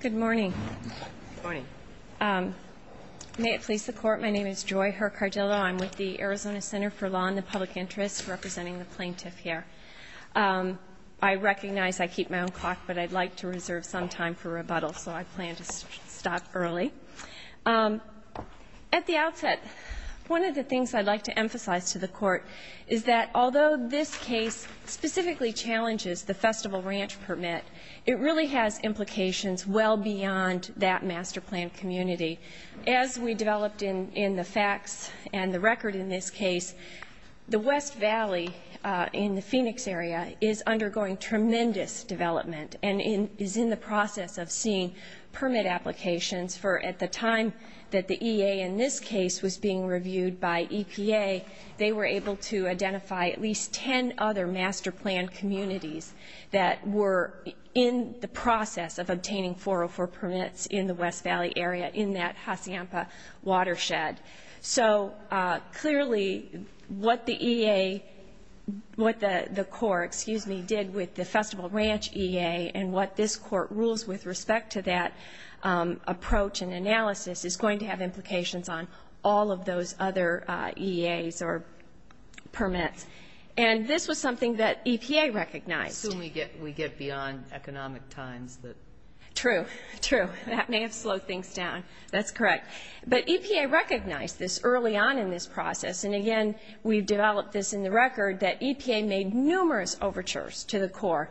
Good morning. May it please the Court, my name is Joy Herr-Cardillo. I'm with the Arizona Center for Law and the Public Interest, representing the plaintiff here. I recognize I keep my own clock, but I'd like to reserve some time for rebuttal, so I plan to stop early. At the outset, one of the things I'd like to emphasize to the Court is that although this case specifically challenges the festival ranch permit, it really has implications well beyond that master plan community. As we developed in the facts and the record in this case, the West Valley in the Phoenix area is undergoing tremendous development and is in the process of seeing permit applications for, at the time that the EA in this case was being reviewed by EPA, they were able to identify at least ten other master plan communities that were in the process of obtaining 404 permits in the West Valley area in that Hacienpa watershed. So clearly what the EA, what the Court, excuse me, did with the festival ranch EA and what this Court rules with respect to that approach and analysis is going to have implications on all of those other EAs or permits. And this was something that EPA recognized. We get beyond economic times. True, true. That may have slowed things down. That's correct. But EPA recognized this early on in this process, and again, we've developed this in the record, that EPA made numerous overtures to the Corps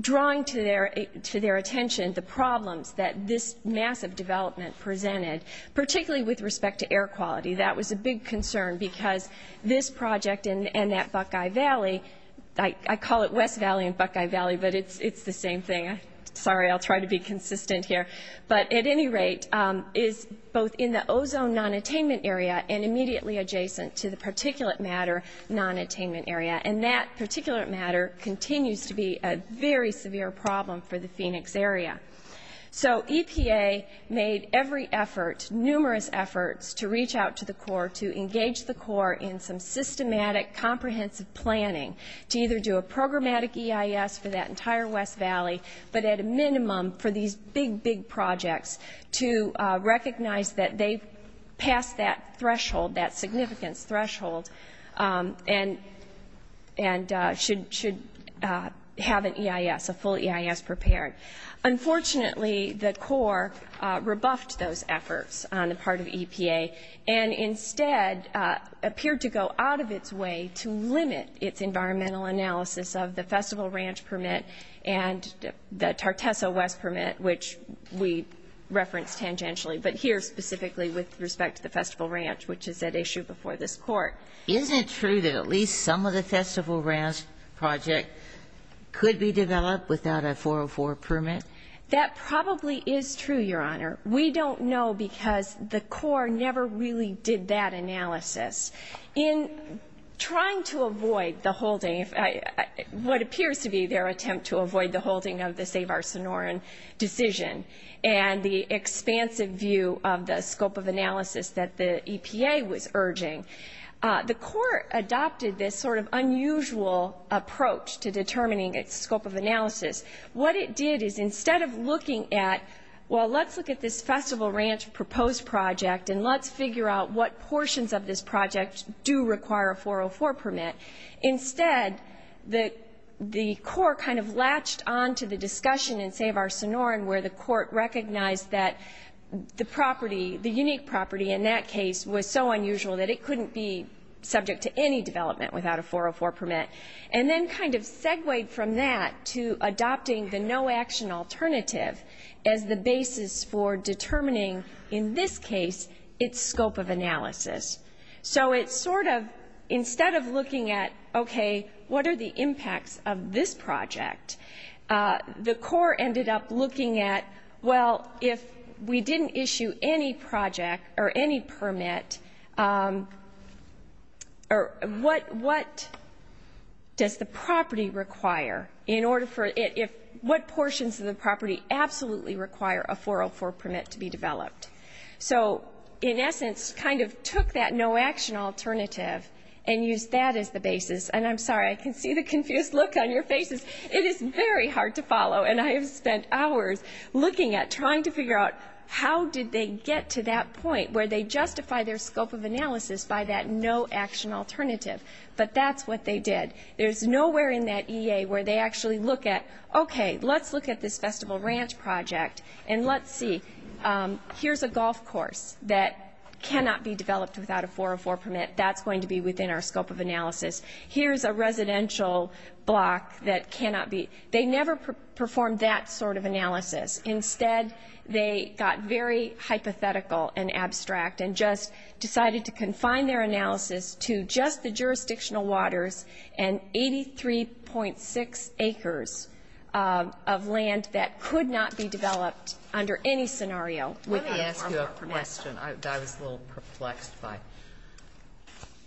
drawing to their attention the problems that this massive development presented, particularly with respect to air quality. That was a big concern because this project and that Buckeye Valley, I call it West Valley and Buckeye Valley, but it's the same thing. Sorry, I'll try to be consistent here. But at any rate, is both in the ozone nonattainment area and immediately adjacent to the particulate matter nonattainment area. And that particulate matter continues to be a very severe problem for the Phoenix area. So EPA made every effort, numerous efforts, to reach out to the Corps to engage the Corps in some systematic, comprehensive planning to either do a programmatic EIS for that entire West Valley, but at a minimum for these big, big projects to recognize that they've passed that threshold, that significance threshold, and should have an EIS, a full EIS prepared. Unfortunately, the Corps rebuffed those efforts on the part of EPA and instead appeared to go out of its way to limit its environmental analysis of the Festival Ranch Permit and the Tartesso West Permit, which we referenced tangentially, but here specifically with respect to the Festival Ranch, which is at issue before this Court. Isn't it true that at least some of the Festival Ranch Project could be developed without a 404 permit? That probably is true, Your Honor. We don't know because the Corps never really did that analysis. In trying to avoid the holding, what appears to be their attempt to avoid the holding of the Save Our Sonoran decision and the expansive view of the scope of analysis that the EPA was urging, the Corps adopted this sort of unusual approach to determining its scope of analysis. What it did is instead of looking at, well, let's look at this Festival Ranch proposed project and let's figure out what portions of this project do require a 404 permit, instead the Corps kind of latched on to the discussion in Save Our Sonoran where the Court recognized that the property, the unique property in that case, was so unusual that it couldn't be subject to any development without a 404 permit and then kind of segued from that to adopting the no-action alternative as the basis for determining, in this case, its scope of analysis. So it's sort of, instead of looking at, okay, what are the impacts of this project, the Corps ended up looking at, well, if we didn't issue any project or any permit, what does the property require in order for it, what portions of the property absolutely require a 404 permit to be developed? So, in essence, kind of took that no-action alternative and used that as the basis. And I'm sorry, I can see the confused look on your faces. It is very hard to follow, and I have spent hours looking at trying to figure out how did they get to that point where they justify their scope of analysis by that no-action alternative. But that's what they did. There's nowhere in that EA where they actually look at, okay, let's look at this festival ranch project and let's see, here's a golf course that cannot be developed without a 404 permit. That's going to be within our scope of analysis. Here's a residential block that cannot be. They never performed that sort of analysis. Instead, they got very hypothetical and abstract and just decided to confine their analysis to just the jurisdictional waters and 83.6 acres of land that could not be developed under any scenario. Let me ask you a question. I was a little perplexed by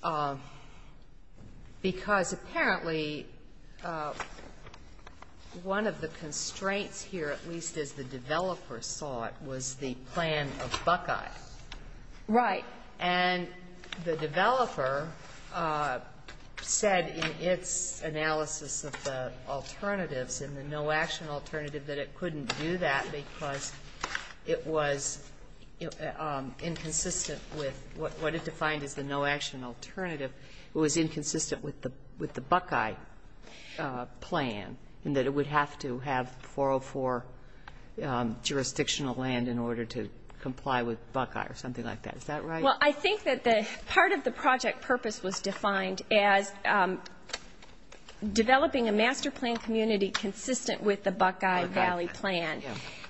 it. Because apparently one of the constraints here, at least as the developer saw it, was the plan of Buckeye. Right. And the developer said in its analysis of the alternatives and the no-action alternative that it couldn't do that because it was inconsistent with what it defined as the no-action alternative. It was inconsistent with the Buckeye plan and that it would have to have 404 jurisdictional land in order to comply with Buckeye or something like that. Is that right? Well, I think that part of the project purpose was defined as developing a master plan community consistent with the Buckeye Valley plan.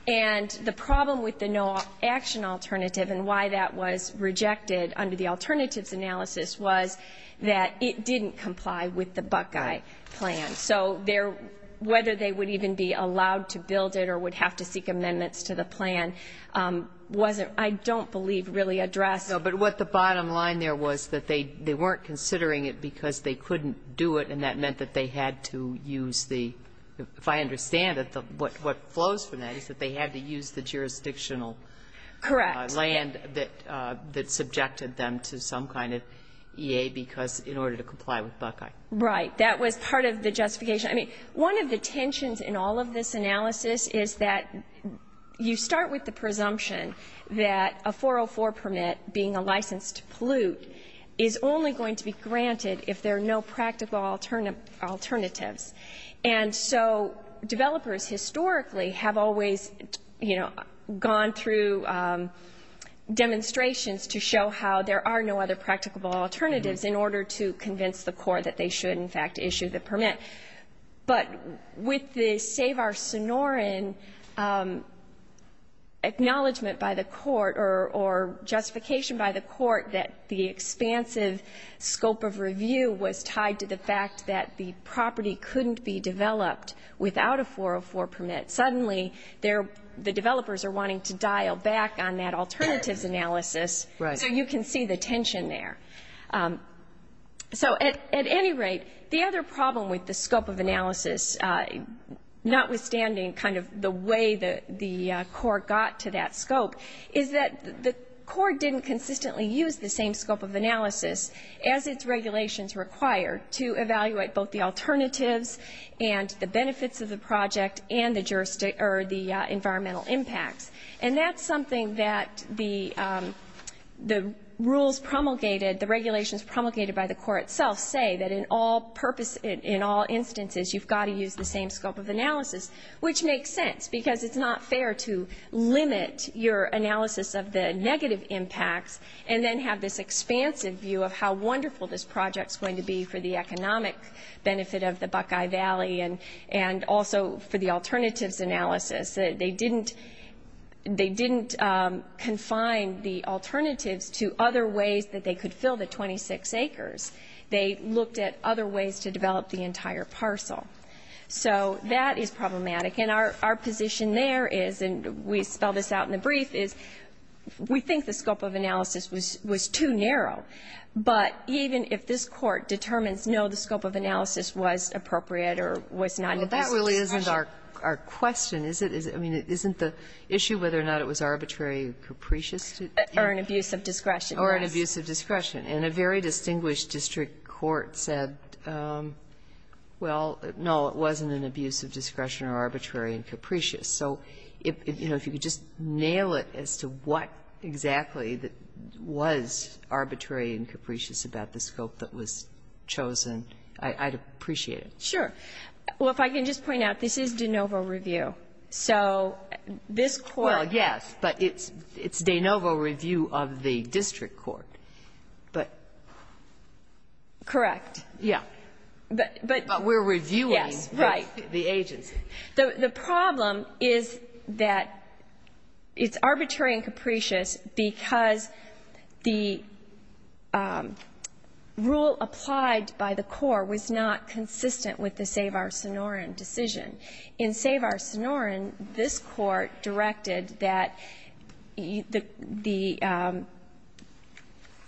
And the problem with the no-action alternative and why that was rejected under the alternatives analysis was that it didn't comply with the Buckeye plan. So whether they would even be allowed to build it or would have to seek amendments to the plan wasn't, I don't believe, really addressed. No, but what the bottom line there was that they weren't considering it because they couldn't do it and that meant that they had to use the, if I understand it, what flows from that is that they had to use the jurisdictional land. Correct. That subjected them to some kind of EA because in order to comply with Buckeye. Right. That was part of the justification. I mean, one of the tensions in all of this analysis is that you start with the presumption that a 404 permit being a licensed pollute is only going to be granted if there are no practical alternatives. And so developers historically have always, you know, gone through demonstrations to show how there are no other practical alternatives in order to convince the court that they should, in fact, issue the permit. But with the Save Our Sonoran acknowledgement by the court or justification by the court that the expansive scope of review was tied to the fact that the property couldn't be developed without a 404 permit, suddenly the developers are wanting to dial back on that alternatives analysis. Right. So you can see the tension there. So at any rate, the other problem with the scope of analysis, notwithstanding kind of the way the court got to that scope, is that the court didn't consistently use the same scope of analysis as its regulations require to evaluate both the alternatives and the benefits of the project and the environmental impacts. And that's something that the rules promulgated, the regulations promulgated by the court itself, say that in all instances you've got to use the same scope of analysis, which makes sense because it's not fair to limit your analysis of the negative impacts and then have this expansive view of how wonderful this project is going to be for the economic benefit of the Buckeye Valley and also for the alternatives analysis. They didn't confine the alternatives to other ways that they could fill the 26 acres. They looked at other ways to develop the entire parcel. So that is problematic. And our position there is, and we spell this out in the brief, is we think the scope of analysis was too narrow. But even if this court determines, no, the scope of analysis was appropriate or was not an abuse of discretion. Well, that really isn't our question, is it? I mean, isn't the issue whether or not it was arbitrary or capricious? Or an abuse of discretion, yes. Or an abuse of discretion. And a very distinguished district court said, well, no, it wasn't an abuse of discretion or arbitrary and capricious. So if you could just nail it as to what exactly was arbitrary and capricious about the scope that was chosen, I'd appreciate it. Sure. Well, if I can just point out, this is de novo review. So this court. Well, yes, but it's de novo review of the district court. Correct. Yeah. But we're reviewing the agency. The problem is that it's arbitrary and capricious because the rule applied by the court was not consistent with the Save Our Sonoran decision. In Save Our Sonoran, this court directed that the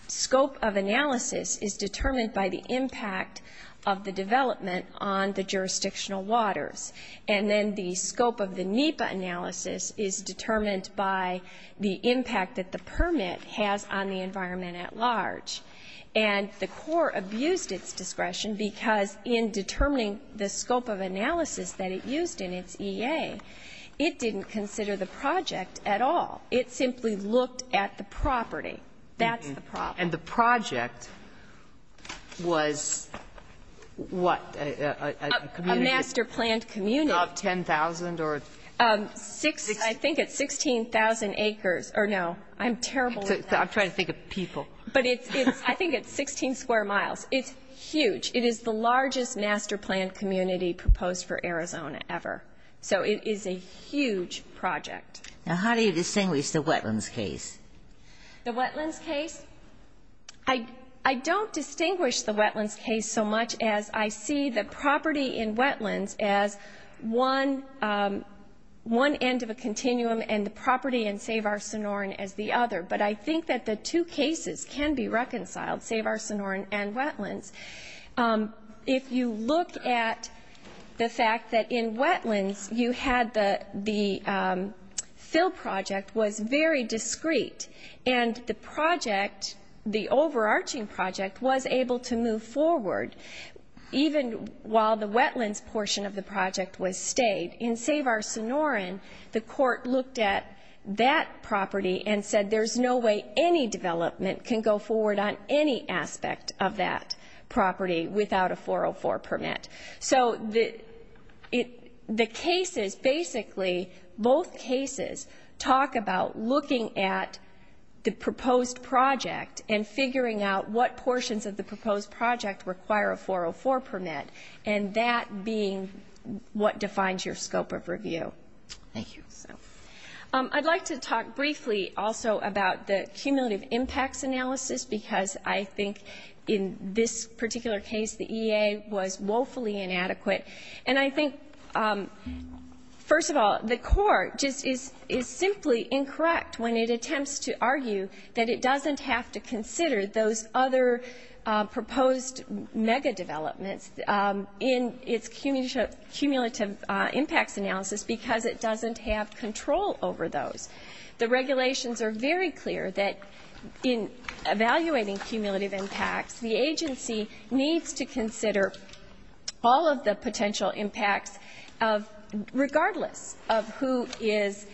scope of analysis is determined by the impact of the development on the jurisdictional waters. And then the scope of the NEPA analysis is determined by the impact that the permit has on the environment at large. And the court abused its discretion because in determining the scope of analysis that it used in its EA, it didn't consider the project at all. It simply looked at the property. That's the problem. And the project was what, a community? A master-planned community. Of 10,000 or? I think it's 16,000 acres. Or no. I'm terrible with numbers. I'm trying to think of people. But I think it's 16 square miles. It's huge. It is the largest master-planned community proposed for Arizona ever. So it is a huge project. Now, how do you distinguish the wetlands case? The wetlands case? I don't distinguish the wetlands case so much as I see the property in wetlands as one end of a continuum and the property in Save Our Sonoran as the other. But I think that the two cases can be reconciled, Save Our Sonoran and wetlands. If you look at the fact that in wetlands you had the fill project was very discreet. And the project, the overarching project, was able to move forward even while the wetlands portion of the project was stayed. In Save Our Sonoran, the court looked at that property and said there's no way any development can go forward on any aspect of that property without a 404 permit. So the cases basically, both cases, talk about looking at the proposed project and figuring out what portions of the proposed project require a 404 permit and that being what defines your scope of review. Thank you. I'd like to talk briefly also about the cumulative impacts analysis because I think in this particular case the EA was woefully inadequate. And I think, first of all, the court just is simply incorrect when it attempts to argue that it doesn't have to consider those other proposed mega-developments in its cumulative impacts analysis because it doesn't have control over those. The regulations are very clear that in evaluating cumulative impacts, the agency needs to consider all of the potential impacts of regardless of who is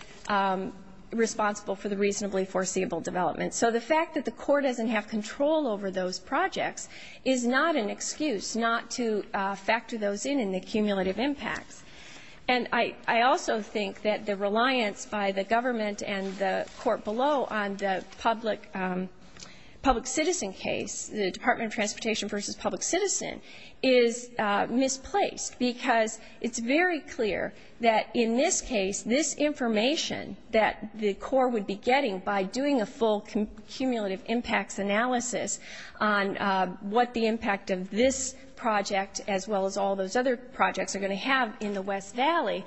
responsible for the reasonably foreseeable developments. So the fact that the court doesn't have control over those projects is not an excuse not to factor those in in the cumulative impacts. And I also think that the reliance by the government and the court below on the public citizen case, the Department of Transportation v. Public Citizen, is misplaced because it's very clear that in this case, this information that the court would be getting by doing a full cumulative impacts analysis on what the impact of this project as well as all those other projects are going to have in the West Valley,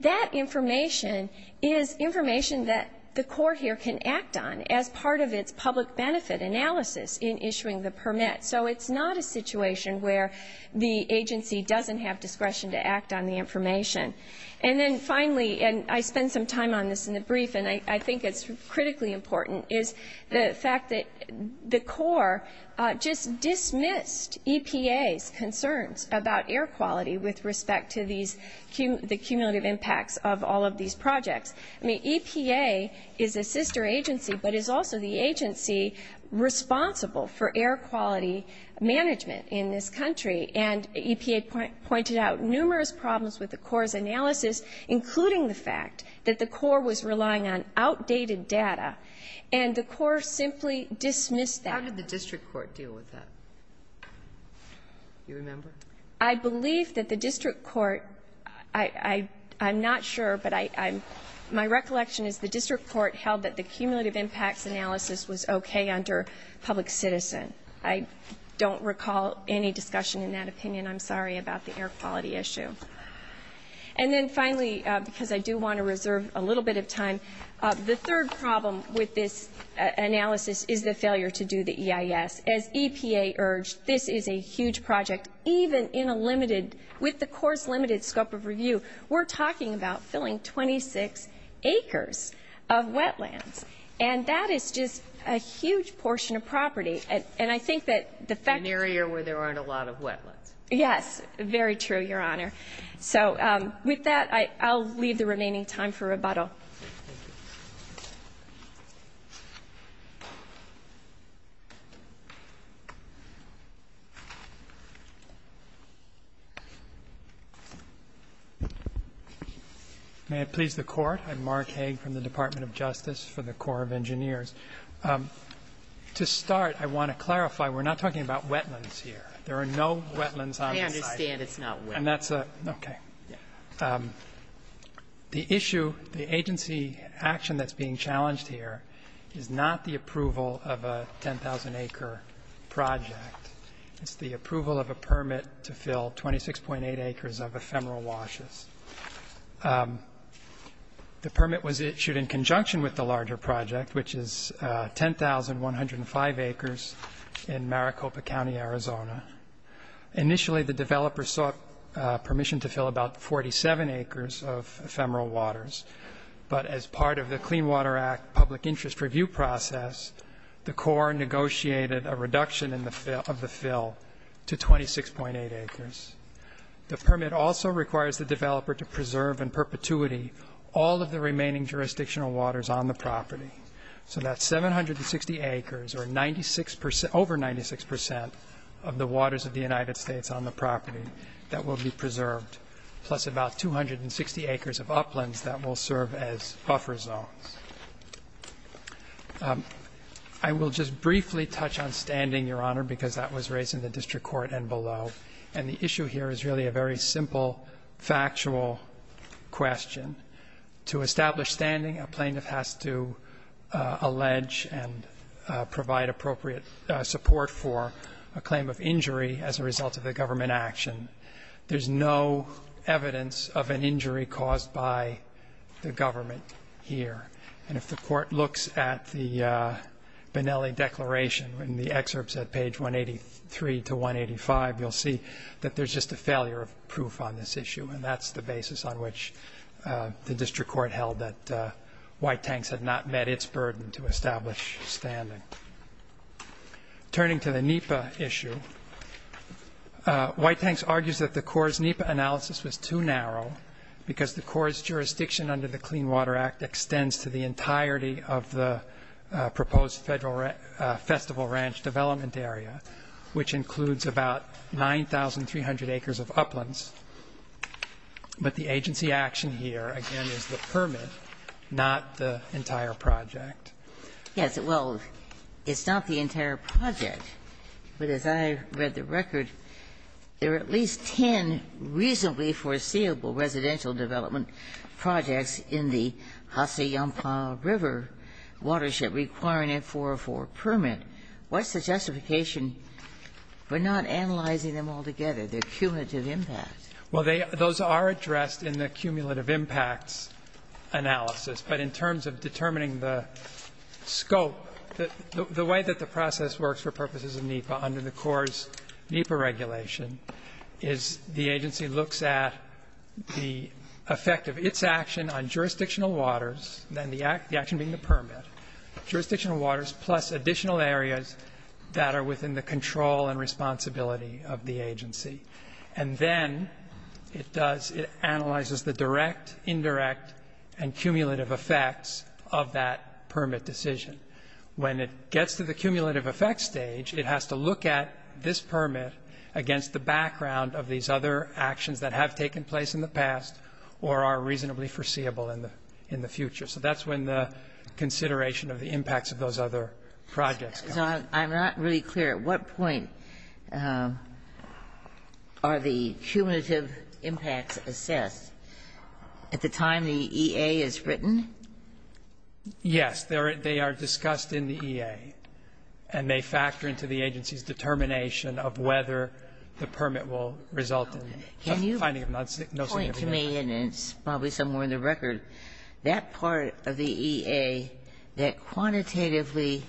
that information is information that the court here can act on as part of its public benefit analysis in issuing the permit. So it's not a situation where the agency doesn't have discretion to act on the information. And then finally, and I spend some time on this in the brief, and I think it's critically important, is the fact that the court just dismissed EPA's concerns about air quality with respect to the cumulative impacts of all of these projects. I mean, EPA is a sister agency but is also the agency responsible for air quality management in this country. And EPA pointed out numerous problems with the court's analysis, including the fact that the court was relying on outdated data, and the court simply dismissed that. How did the district court deal with that? Do you remember? I believe that the district court, I'm not sure, but my recollection is the district court held that the cumulative impacts analysis was okay under public citizen. I don't recall any discussion in that opinion. I'm sorry about the air quality issue. And then finally, because I do want to reserve a little bit of time, the third problem with this analysis is the failure to do the EIS. As EPA urged, this is a huge project. Even in a limited, with the court's limited scope of review, we're talking about filling 26 acres of wetlands. And that is just a huge portion of property. And I think that the fact that the court dismissed the EIS, I don't recall any discussion in that opinion. An area where there aren't a lot of wetlands. Yes, very true, Your Honor. So with that, I'll leave the remaining time for rebuttal. Thank you. May it please the Court. I'm Mark Hague from the Department of Justice for the Corps of Engineers. To start, I want to clarify, we're not talking about wetlands here. There are no wetlands on this site. I understand it's not wet. Okay. The issue, the agency action that's being challenged here is not the approval of a 10,000-acre project. It's the approval of a permit to fill 26.8 acres of ephemeral washes. The permit was issued in conjunction with the larger project, Initially, the developer sought permission to fill about 47 acres of ephemeral waters, but as part of the Clean Water Act public interest review process, the Corps negotiated a reduction of the fill to 26.8 acres. The permit also requires the developer to preserve in perpetuity all of the remaining jurisdictional waters on the property. So that's 760 acres or over 96% of the waters of the United States on the property that will be preserved, plus about 260 acres of uplands that will serve as buffer zones. I will just briefly touch on standing, Your Honor, because that was raised in the district court and below. And the issue here is really a very simple, factual question. To establish standing, a plaintiff has to allege and provide appropriate support for a claim of injury as a result of a government action. There's no evidence of an injury caused by the government here. And if the Court looks at the Benelli Declaration in the excerpts at page 183 to 185, you'll see that there's just a failure of proof on this issue, and that's the basis on which the district court held that White Tanks had not met its burden to establish standing. Turning to the NEPA issue, White Tanks argues that the Corps' NEPA analysis was too narrow because the Corps' jurisdiction under the Clean Water Act extends to the entirety of the proposed festival ranch development area, which includes about 9,300 acres of uplands. But the agency action here, again, is the permit, not the entire project. Ginsburg. Yes. Well, it's not the entire project, but as I read the record, there are at least 10 reasonably foreseeable residential development projects in the Hacienda River watershed requiring a 404 permit. What's the justification for not analyzing them all together, the cumulative impact? Well, they are – those are addressed in the cumulative impacts analysis. But in terms of determining the scope, the way that the process works for purposes of NEPA under the Corps' NEPA regulation is the agency looks at the effect of its action on jurisdictional waters, then the action being the permit, jurisdictional waters plus additional areas that are within the control and responsibility of the agency. And then it does – it analyzes the direct, indirect, and cumulative effects of that permit decision. When it gets to the cumulative effects stage, it has to look at this permit against the background of these other actions that have taken place in the past or are reasonably foreseeable in the future. So that's when the consideration of the impacts of those other projects come in. So I'm not really clear. At what point are the cumulative impacts assessed? At the time the EA is written? Yes. They are discussed in the EA, and they factor into the agency's determination of whether the permit will result in finding of no significance. But to me, and it's probably somewhere in the record, that part of the EA that quantitatively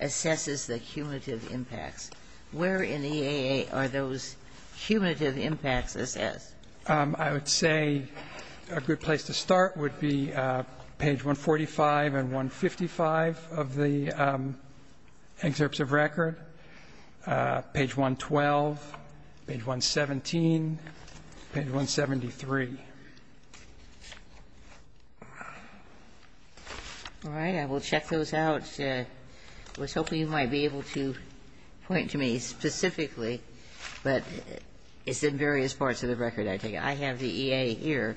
assesses the cumulative impacts, where in the EA are those cumulative impacts assessed? I would say a good place to start would be page 145 and 155 of the excerpts of record, page 112, page 117, page 173. All right. I will check those out. I was hoping you might be able to point to me specifically, but it's in various parts of the record, I think. I have the EA here.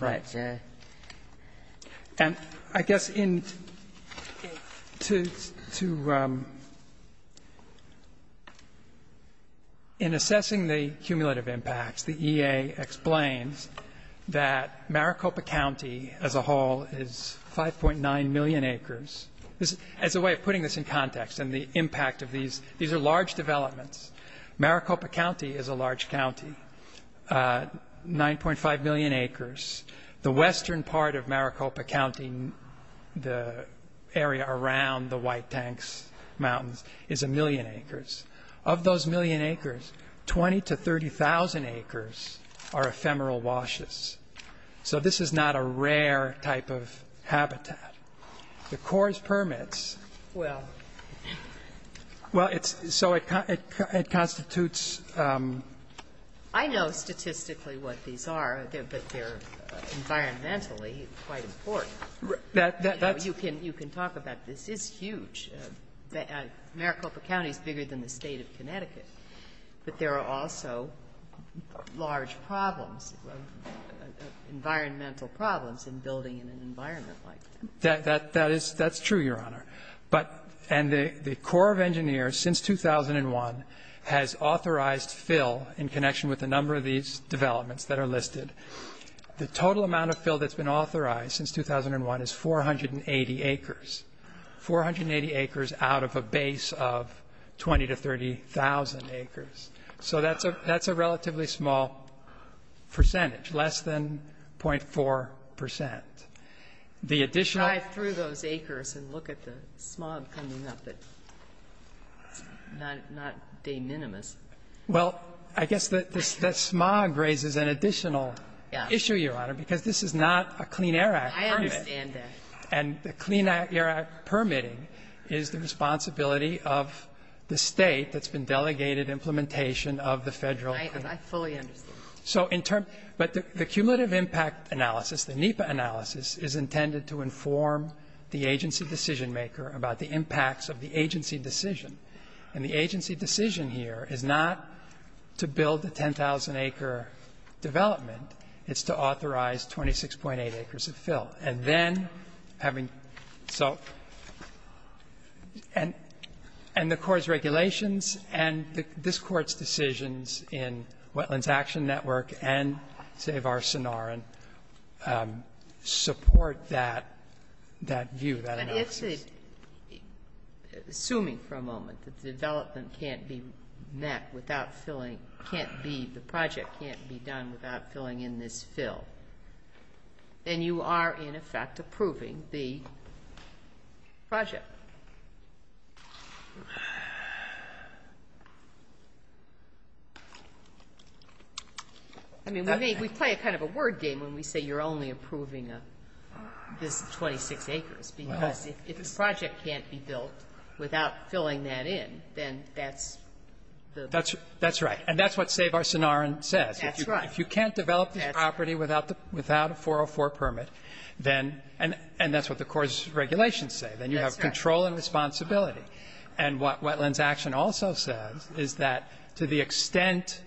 Right. And I guess in assessing the cumulative impacts, the EA explains that Maricopa County as a whole is 5.9 million acres. As a way of putting this in context and the impact of these, these are large developments. Maricopa County is a large county, 9.5 million acres. The western part of Maricopa County, the area around the White Tanks Mountains, is a million acres. Of those million acres, 20,000 to 30,000 acres are ephemeral washes. So this is not a rare type of habitat. The CORS permits, well, so it constitutes. I know statistically what these are, but they're environmentally quite important. That's. You can talk about this. It's huge. Maricopa County is bigger than the State of Connecticut. But there are also large problems, environmental problems in building in an environment like that. That is true, Your Honor. And the Corps of Engineers, since 2001, has authorized fill in connection with a number of these developments that are listed. The total amount of fill that's been authorized since 2001 is 480 acres, 480 acres out of a base of 20,000 to 30,000 acres. So that's a relatively small percentage, less than 0.4%. The additional. If you drive through those acres and look at the smog coming up, it's not de minimis. Well, I guess that smog raises an additional issue, Your Honor, because this is not a Clean Air Act permit. I understand that. And the Clean Air Act permitting is the responsibility of the State that's been delegated implementation of the Federal. I fully understand. So in terms of the cumulative impact analysis, the NEPA analysis is intended to inform the agency decisionmaker about the impacts of the agency decision. And the agency decision here is not to build a 10,000-acre development. It's to authorize 26.8 acres of fill. And then having so and the Court's regulations and this Court's decisions in Wetlands Action Network and Save Our Sonoran support that view, that analysis. But assuming for a moment that the development can't be met without filling, can't be, the project can't be done without filling in this fill, then you are, in effect, approving the project. I mean, we play kind of a word game when we say you're only approving this 26 acres. Because if the project can't be built without filling that in, then that's the ---- That's right. And that's what Save Our Sonoran says. That's right. If you can't develop the property without a 404 permit, then ---- And that's what the Court's regulations say. That's right. Then you have control and responsibility. And what Wetlands Action also says is that to the extent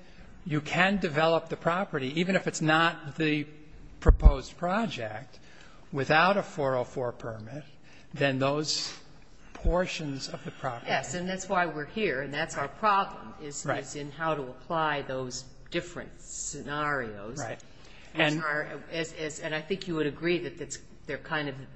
you can develop the property, even if it's not the proposed project, without a 404 permit, then those portions of the property ---- Yes, and that's why we're here. And that's our problem is in how to apply those different scenarios. Right. And I think you would agree that they're kind of ----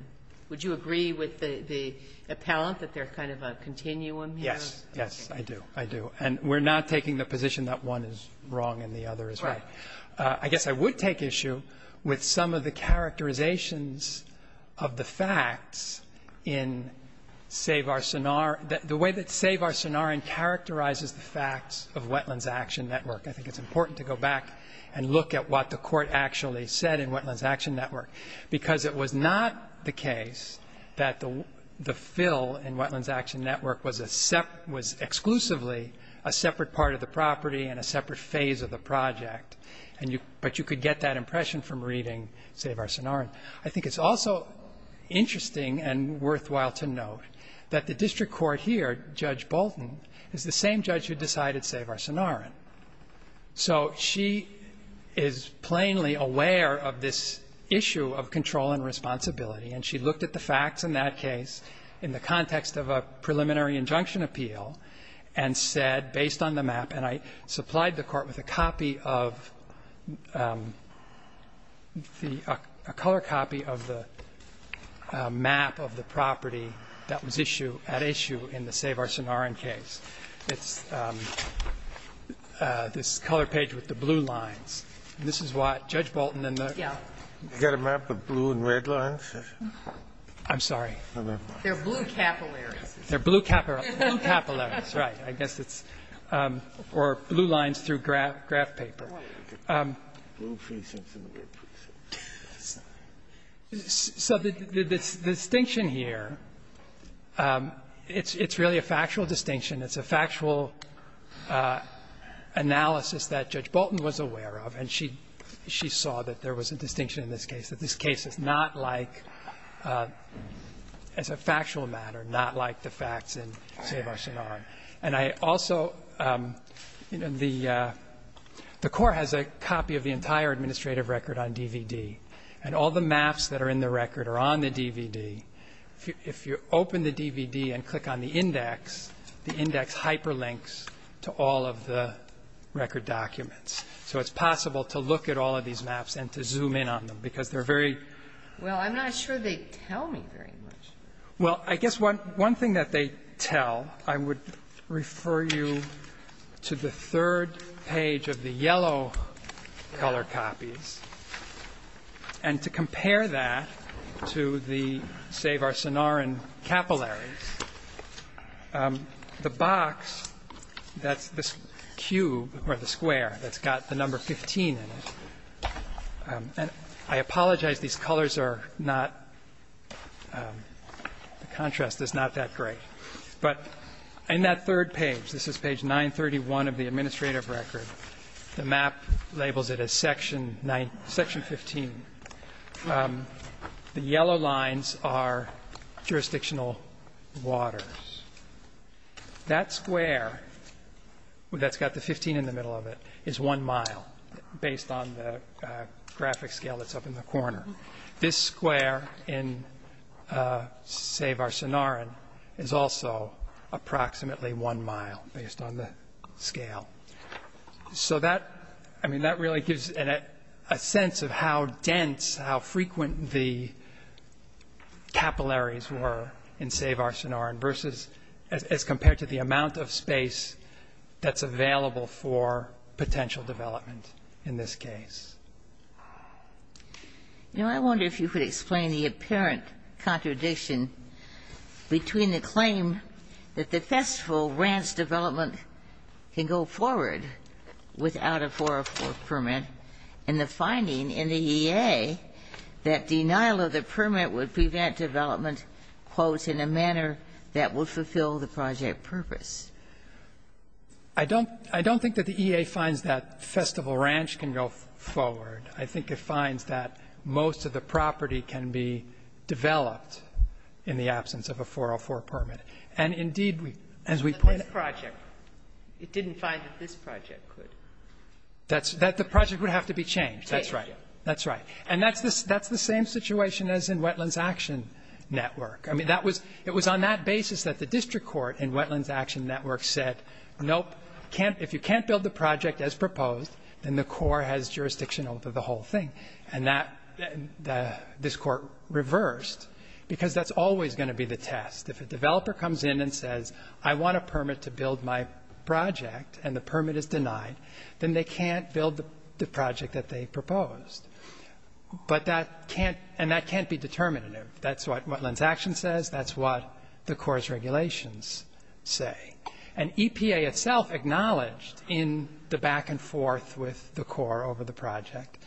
Would you agree with the appellant that they're kind of a continuum here? Yes, yes, I do. I do. And we're not taking the position that one is wrong and the other is right. Right. I guess I would take issue with some of the characterizations of the facts in Save Our Sonoran. The way that Save Our Sonoran characterizes the facts of Wetlands Action Network, I think it's important to go back and look at what the Court actually said in Wetlands Action Network, because it was not the case that the fill in Wetlands Action Network was exclusively a separate part of the property and a separate phase of the project, but you could get that impression from reading Save Our Sonoran. I think it's also interesting and worthwhile to note that the district court here, Judge Bolton, is the same judge who decided Save Our Sonoran. So she is plainly aware of this issue of control and responsibility, and she looked at the facts in that case in the context of a preliminary injunction appeal and said, based on the map, and I supplied the Court with a copy of the – a color copy of the map of the property that was issue – at issue in the Save Our Sonoran case. It's this color page with the blue lines. This is what Judge Bolton and the – Yeah. You got a map of blue and red lines? I'm sorry. They're blue capillaries. They're blue capillaries, right. I guess it's – or blue lines through graph paper. Blue precincts and red precincts. So the distinction here, it's really a factual distinction. It's a factual analysis that Judge Bolton was aware of. And she saw that there was a distinction in this case, that this case is not like as a factual matter, not like the facts in Save Our Sonoran. And I also – you know, the Court has a copy of the entire administrative record on DVD, and all the maps that are in the record are on the DVD. If you open the DVD and click on the index, the index hyperlinks to all of the record documents. So it's possible to look at all of these maps and to zoom in on them because they're very – Well, I'm not sure they tell me very much. Well, I guess one thing that they tell, I would refer you to the third page of the yellow color copies. And to compare that to the Save Our Sonoran capillaries, the box that's this cube or the square that's got the number 15 in it. And I apologize, these colors are not – the contrast is not that great. But in that third page, this is page 931 of the administrative record, the map labels it as section 15. The yellow lines are jurisdictional waters. That square that's got the 15 in the middle of it is one mile, based on the graphic scale that's up in the corner. This square in Save Our Sonoran is also approximately one mile, based on the scale. So that – I mean, that really gives a sense of how dense, how frequent the capillaries were in Save Our Sonoran versus – as compared to the amount of space that's available for potential development in this case. Now, I wonder if you could explain the apparent contradiction between the claim that the festival ranch development can go forward without a 404 permit and the finding in the EA that denial of the permit would prevent development, quote, in a manner that would fulfill the project purpose. I don't – I don't think that the EA finds that festival ranch can go forward. I think it finds that most of the property can be developed in the absence of a 404 permit. And indeed, as we put it – But this project, it didn't find that this project could. That the project would have to be changed. That's right. action network. I mean, that was – it was on that basis that the district court in Wetlands Action Network said, nope, can't – if you can't build the project as proposed, then the court has jurisdiction over the whole thing. And that – this court reversed, because that's always going to be the test. If a developer comes in and says, I want a permit to build my project, and the permit is denied, then they can't build the project that they proposed. But that can't – and that can't be determinative. That's what Wetlands Action says. That's what the court's regulations say. And EPA itself acknowledged in the back and forth with the court over the project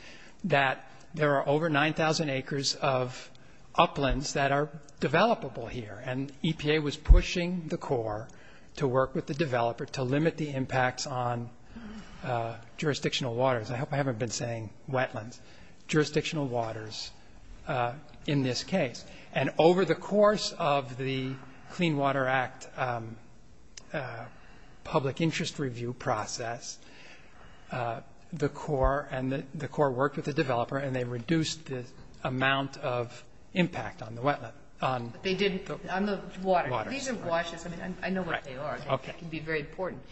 that there are over 9,000 acres of uplands that are developable here. And EPA was pushing the court to work with the developer to limit the impacts on jurisdictional waters. I hope I haven't been saying wetlands. Jurisdictional waters in this case. And over the course of the Clean Water Act public interest review process, the court and the court worked with the developer, and they reduced the amount of impact on the wetland. On the water. These are washes. I mean, I know what they are. Okay. They can be very important.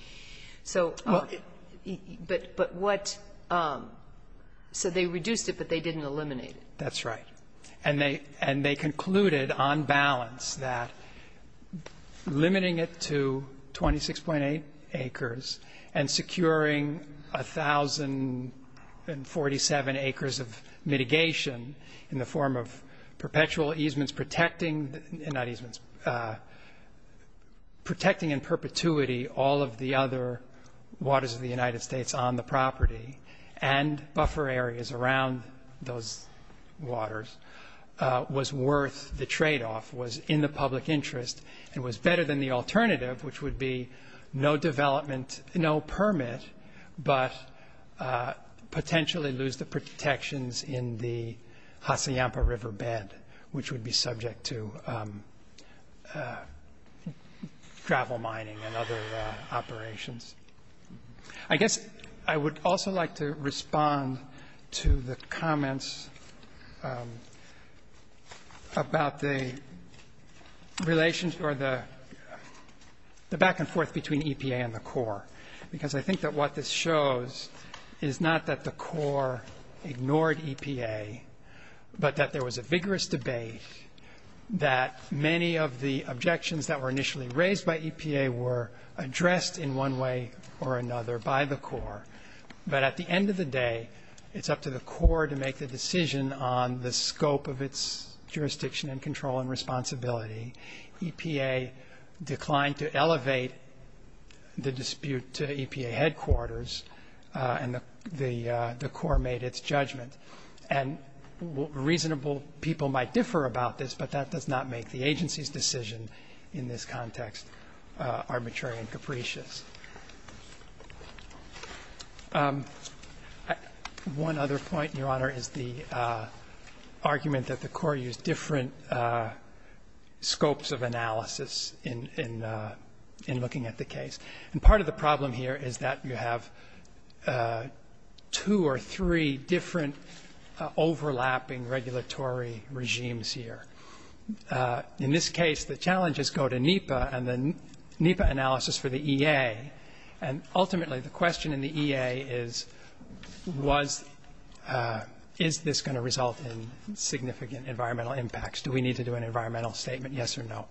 But what – so they reduced it, but they didn't eliminate it. That's right. And they concluded on balance that limiting it to 26.8 acres and securing 1,047 acres of mitigation in the form of perpetual easements means protecting in perpetuity all of the other waters of the United States on the property and buffer areas around those waters was worth the tradeoff, was in the public interest, and was better than the alternative, which would be no development, no permit, but potentially lose the protections in the Hacienda River bed, which would be subject to gravel mining and other operations. I guess I would also like to respond to the comments about the relationship or the back and forth between EPA and the Corps, because I think that what this shows is not that the Corps ignored EPA, but that there was a vigorous debate that many of the objections that were initially raised by EPA were addressed in one way or another by the Corps. But at the end of the day, it's up to the Corps to make the decision on the scope of its jurisdiction and control and responsibility. EPA declined to elevate the dispute to EPA headquarters, and the Corps made its judgment. And reasonable people might differ about this, but that does not make the agency's decision in this context arbitrary and capricious. One other point, Your Honor, is the argument that the Corps used different scopes of analysis in looking at the case. And part of the problem here is that you have two or three different overlapping regulatory regimes here. In this case, the challenges go to NEPA and the NEPA analysis for the EA. And ultimately, the question in the EA is, is this going to result in significant environmental impacts? Do we need to do an environmental statement, yes or no?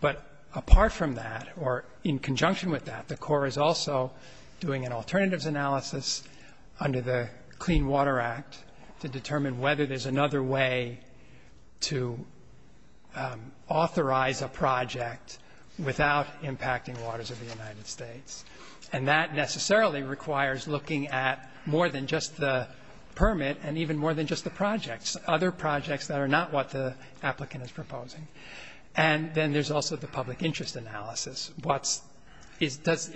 But apart from that, or in conjunction with that, the Corps is also doing an alternatives analysis under the Clean Water Act to determine whether there's another way to authorize a project without impacting waters of the United States. And that necessarily requires looking at more than just the permit and even more than just the projects, other projects that are not what the applicant is proposing. And then there's also the public interest analysis. What's the permit?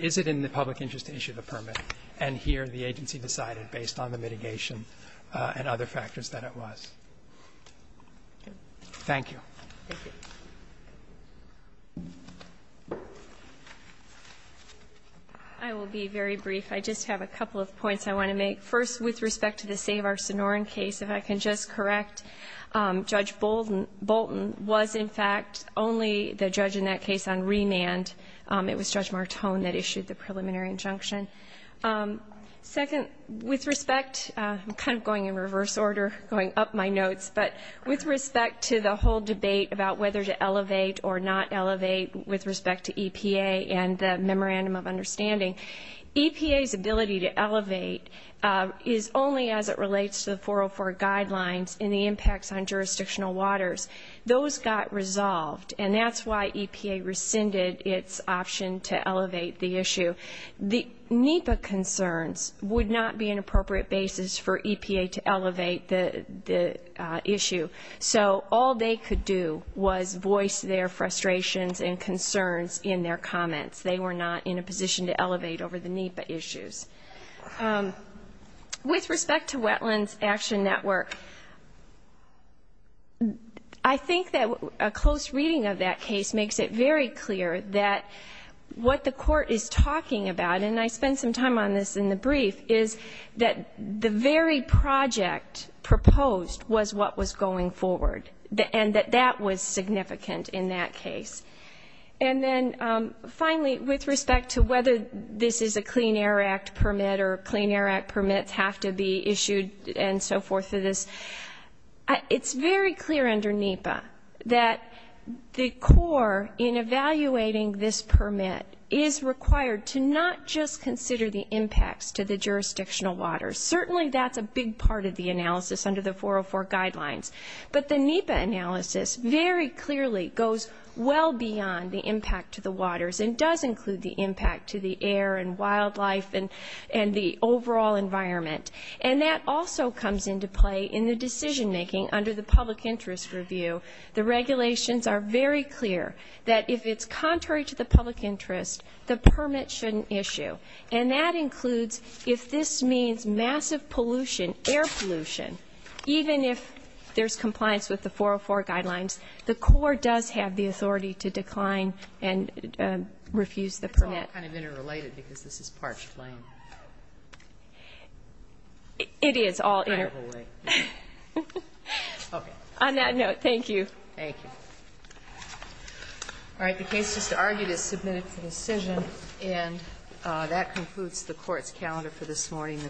Is it in the public interest to issue the permit? And here the agency decided based on the mitigation and other factors that it was. Thank you. Thank you. I will be very brief. I just have a couple of points I want to make. First, with respect to the Save Our Sonoran case, if I can just correct, Judge Bolton was, in fact, only the judge in that case on remand. It was Judge Martone that issued the preliminary injunction. Second, with respect, I'm kind of going in reverse order, going up my notes, but with respect to the whole debate about whether to elevate or not elevate with respect to EPA and the Memorandum of Understanding, EPA's ability to elevate is only as it relates to the 404 guidelines and the impacts on jurisdictional waters. Those got resolved, and that's why EPA rescinded its option to elevate the issue. The NEPA concerns would not be an appropriate basis for EPA to elevate the issue. So all they could do was voice their frustrations and concerns in their comments. They were not in a position to elevate over the NEPA issues. With respect to Wetlands Action Network, I think that a close reading of that case makes it very clear that what the Court is talking about, and I spent some time on this in the brief, is that the very project proposed was what was going forward and that that was significant in that case. And then finally, with respect to whether this is a Clean Air Act permit or Clean Air Act permits have to be issued and so forth for this, it's very clear under NEPA that the core in evaluating this permit is required to not just consider the impacts to the jurisdictional waters. Certainly that's a big part of the analysis under the 404 guidelines, but the NEPA analysis very clearly goes well beyond the impact to the waters and does include the impact to the air and wildlife and the overall environment. And that also comes into play in the decision-making under the Public Interest Review. The regulations are very clear that if it's contrary to the public interest, the permit shouldn't issue. And that includes if this means massive pollution, air pollution, even if there's compliance with the 404 guidelines, the court does have the authority to decline and refuse the permit. It's all kind of interrelated because this is parched land. It is all interrelated. Okay. On that note, thank you. Thank you. All right. The case just argued is submitted for decision, and that concludes the Court's calendar for this morning. The Court is adjourned.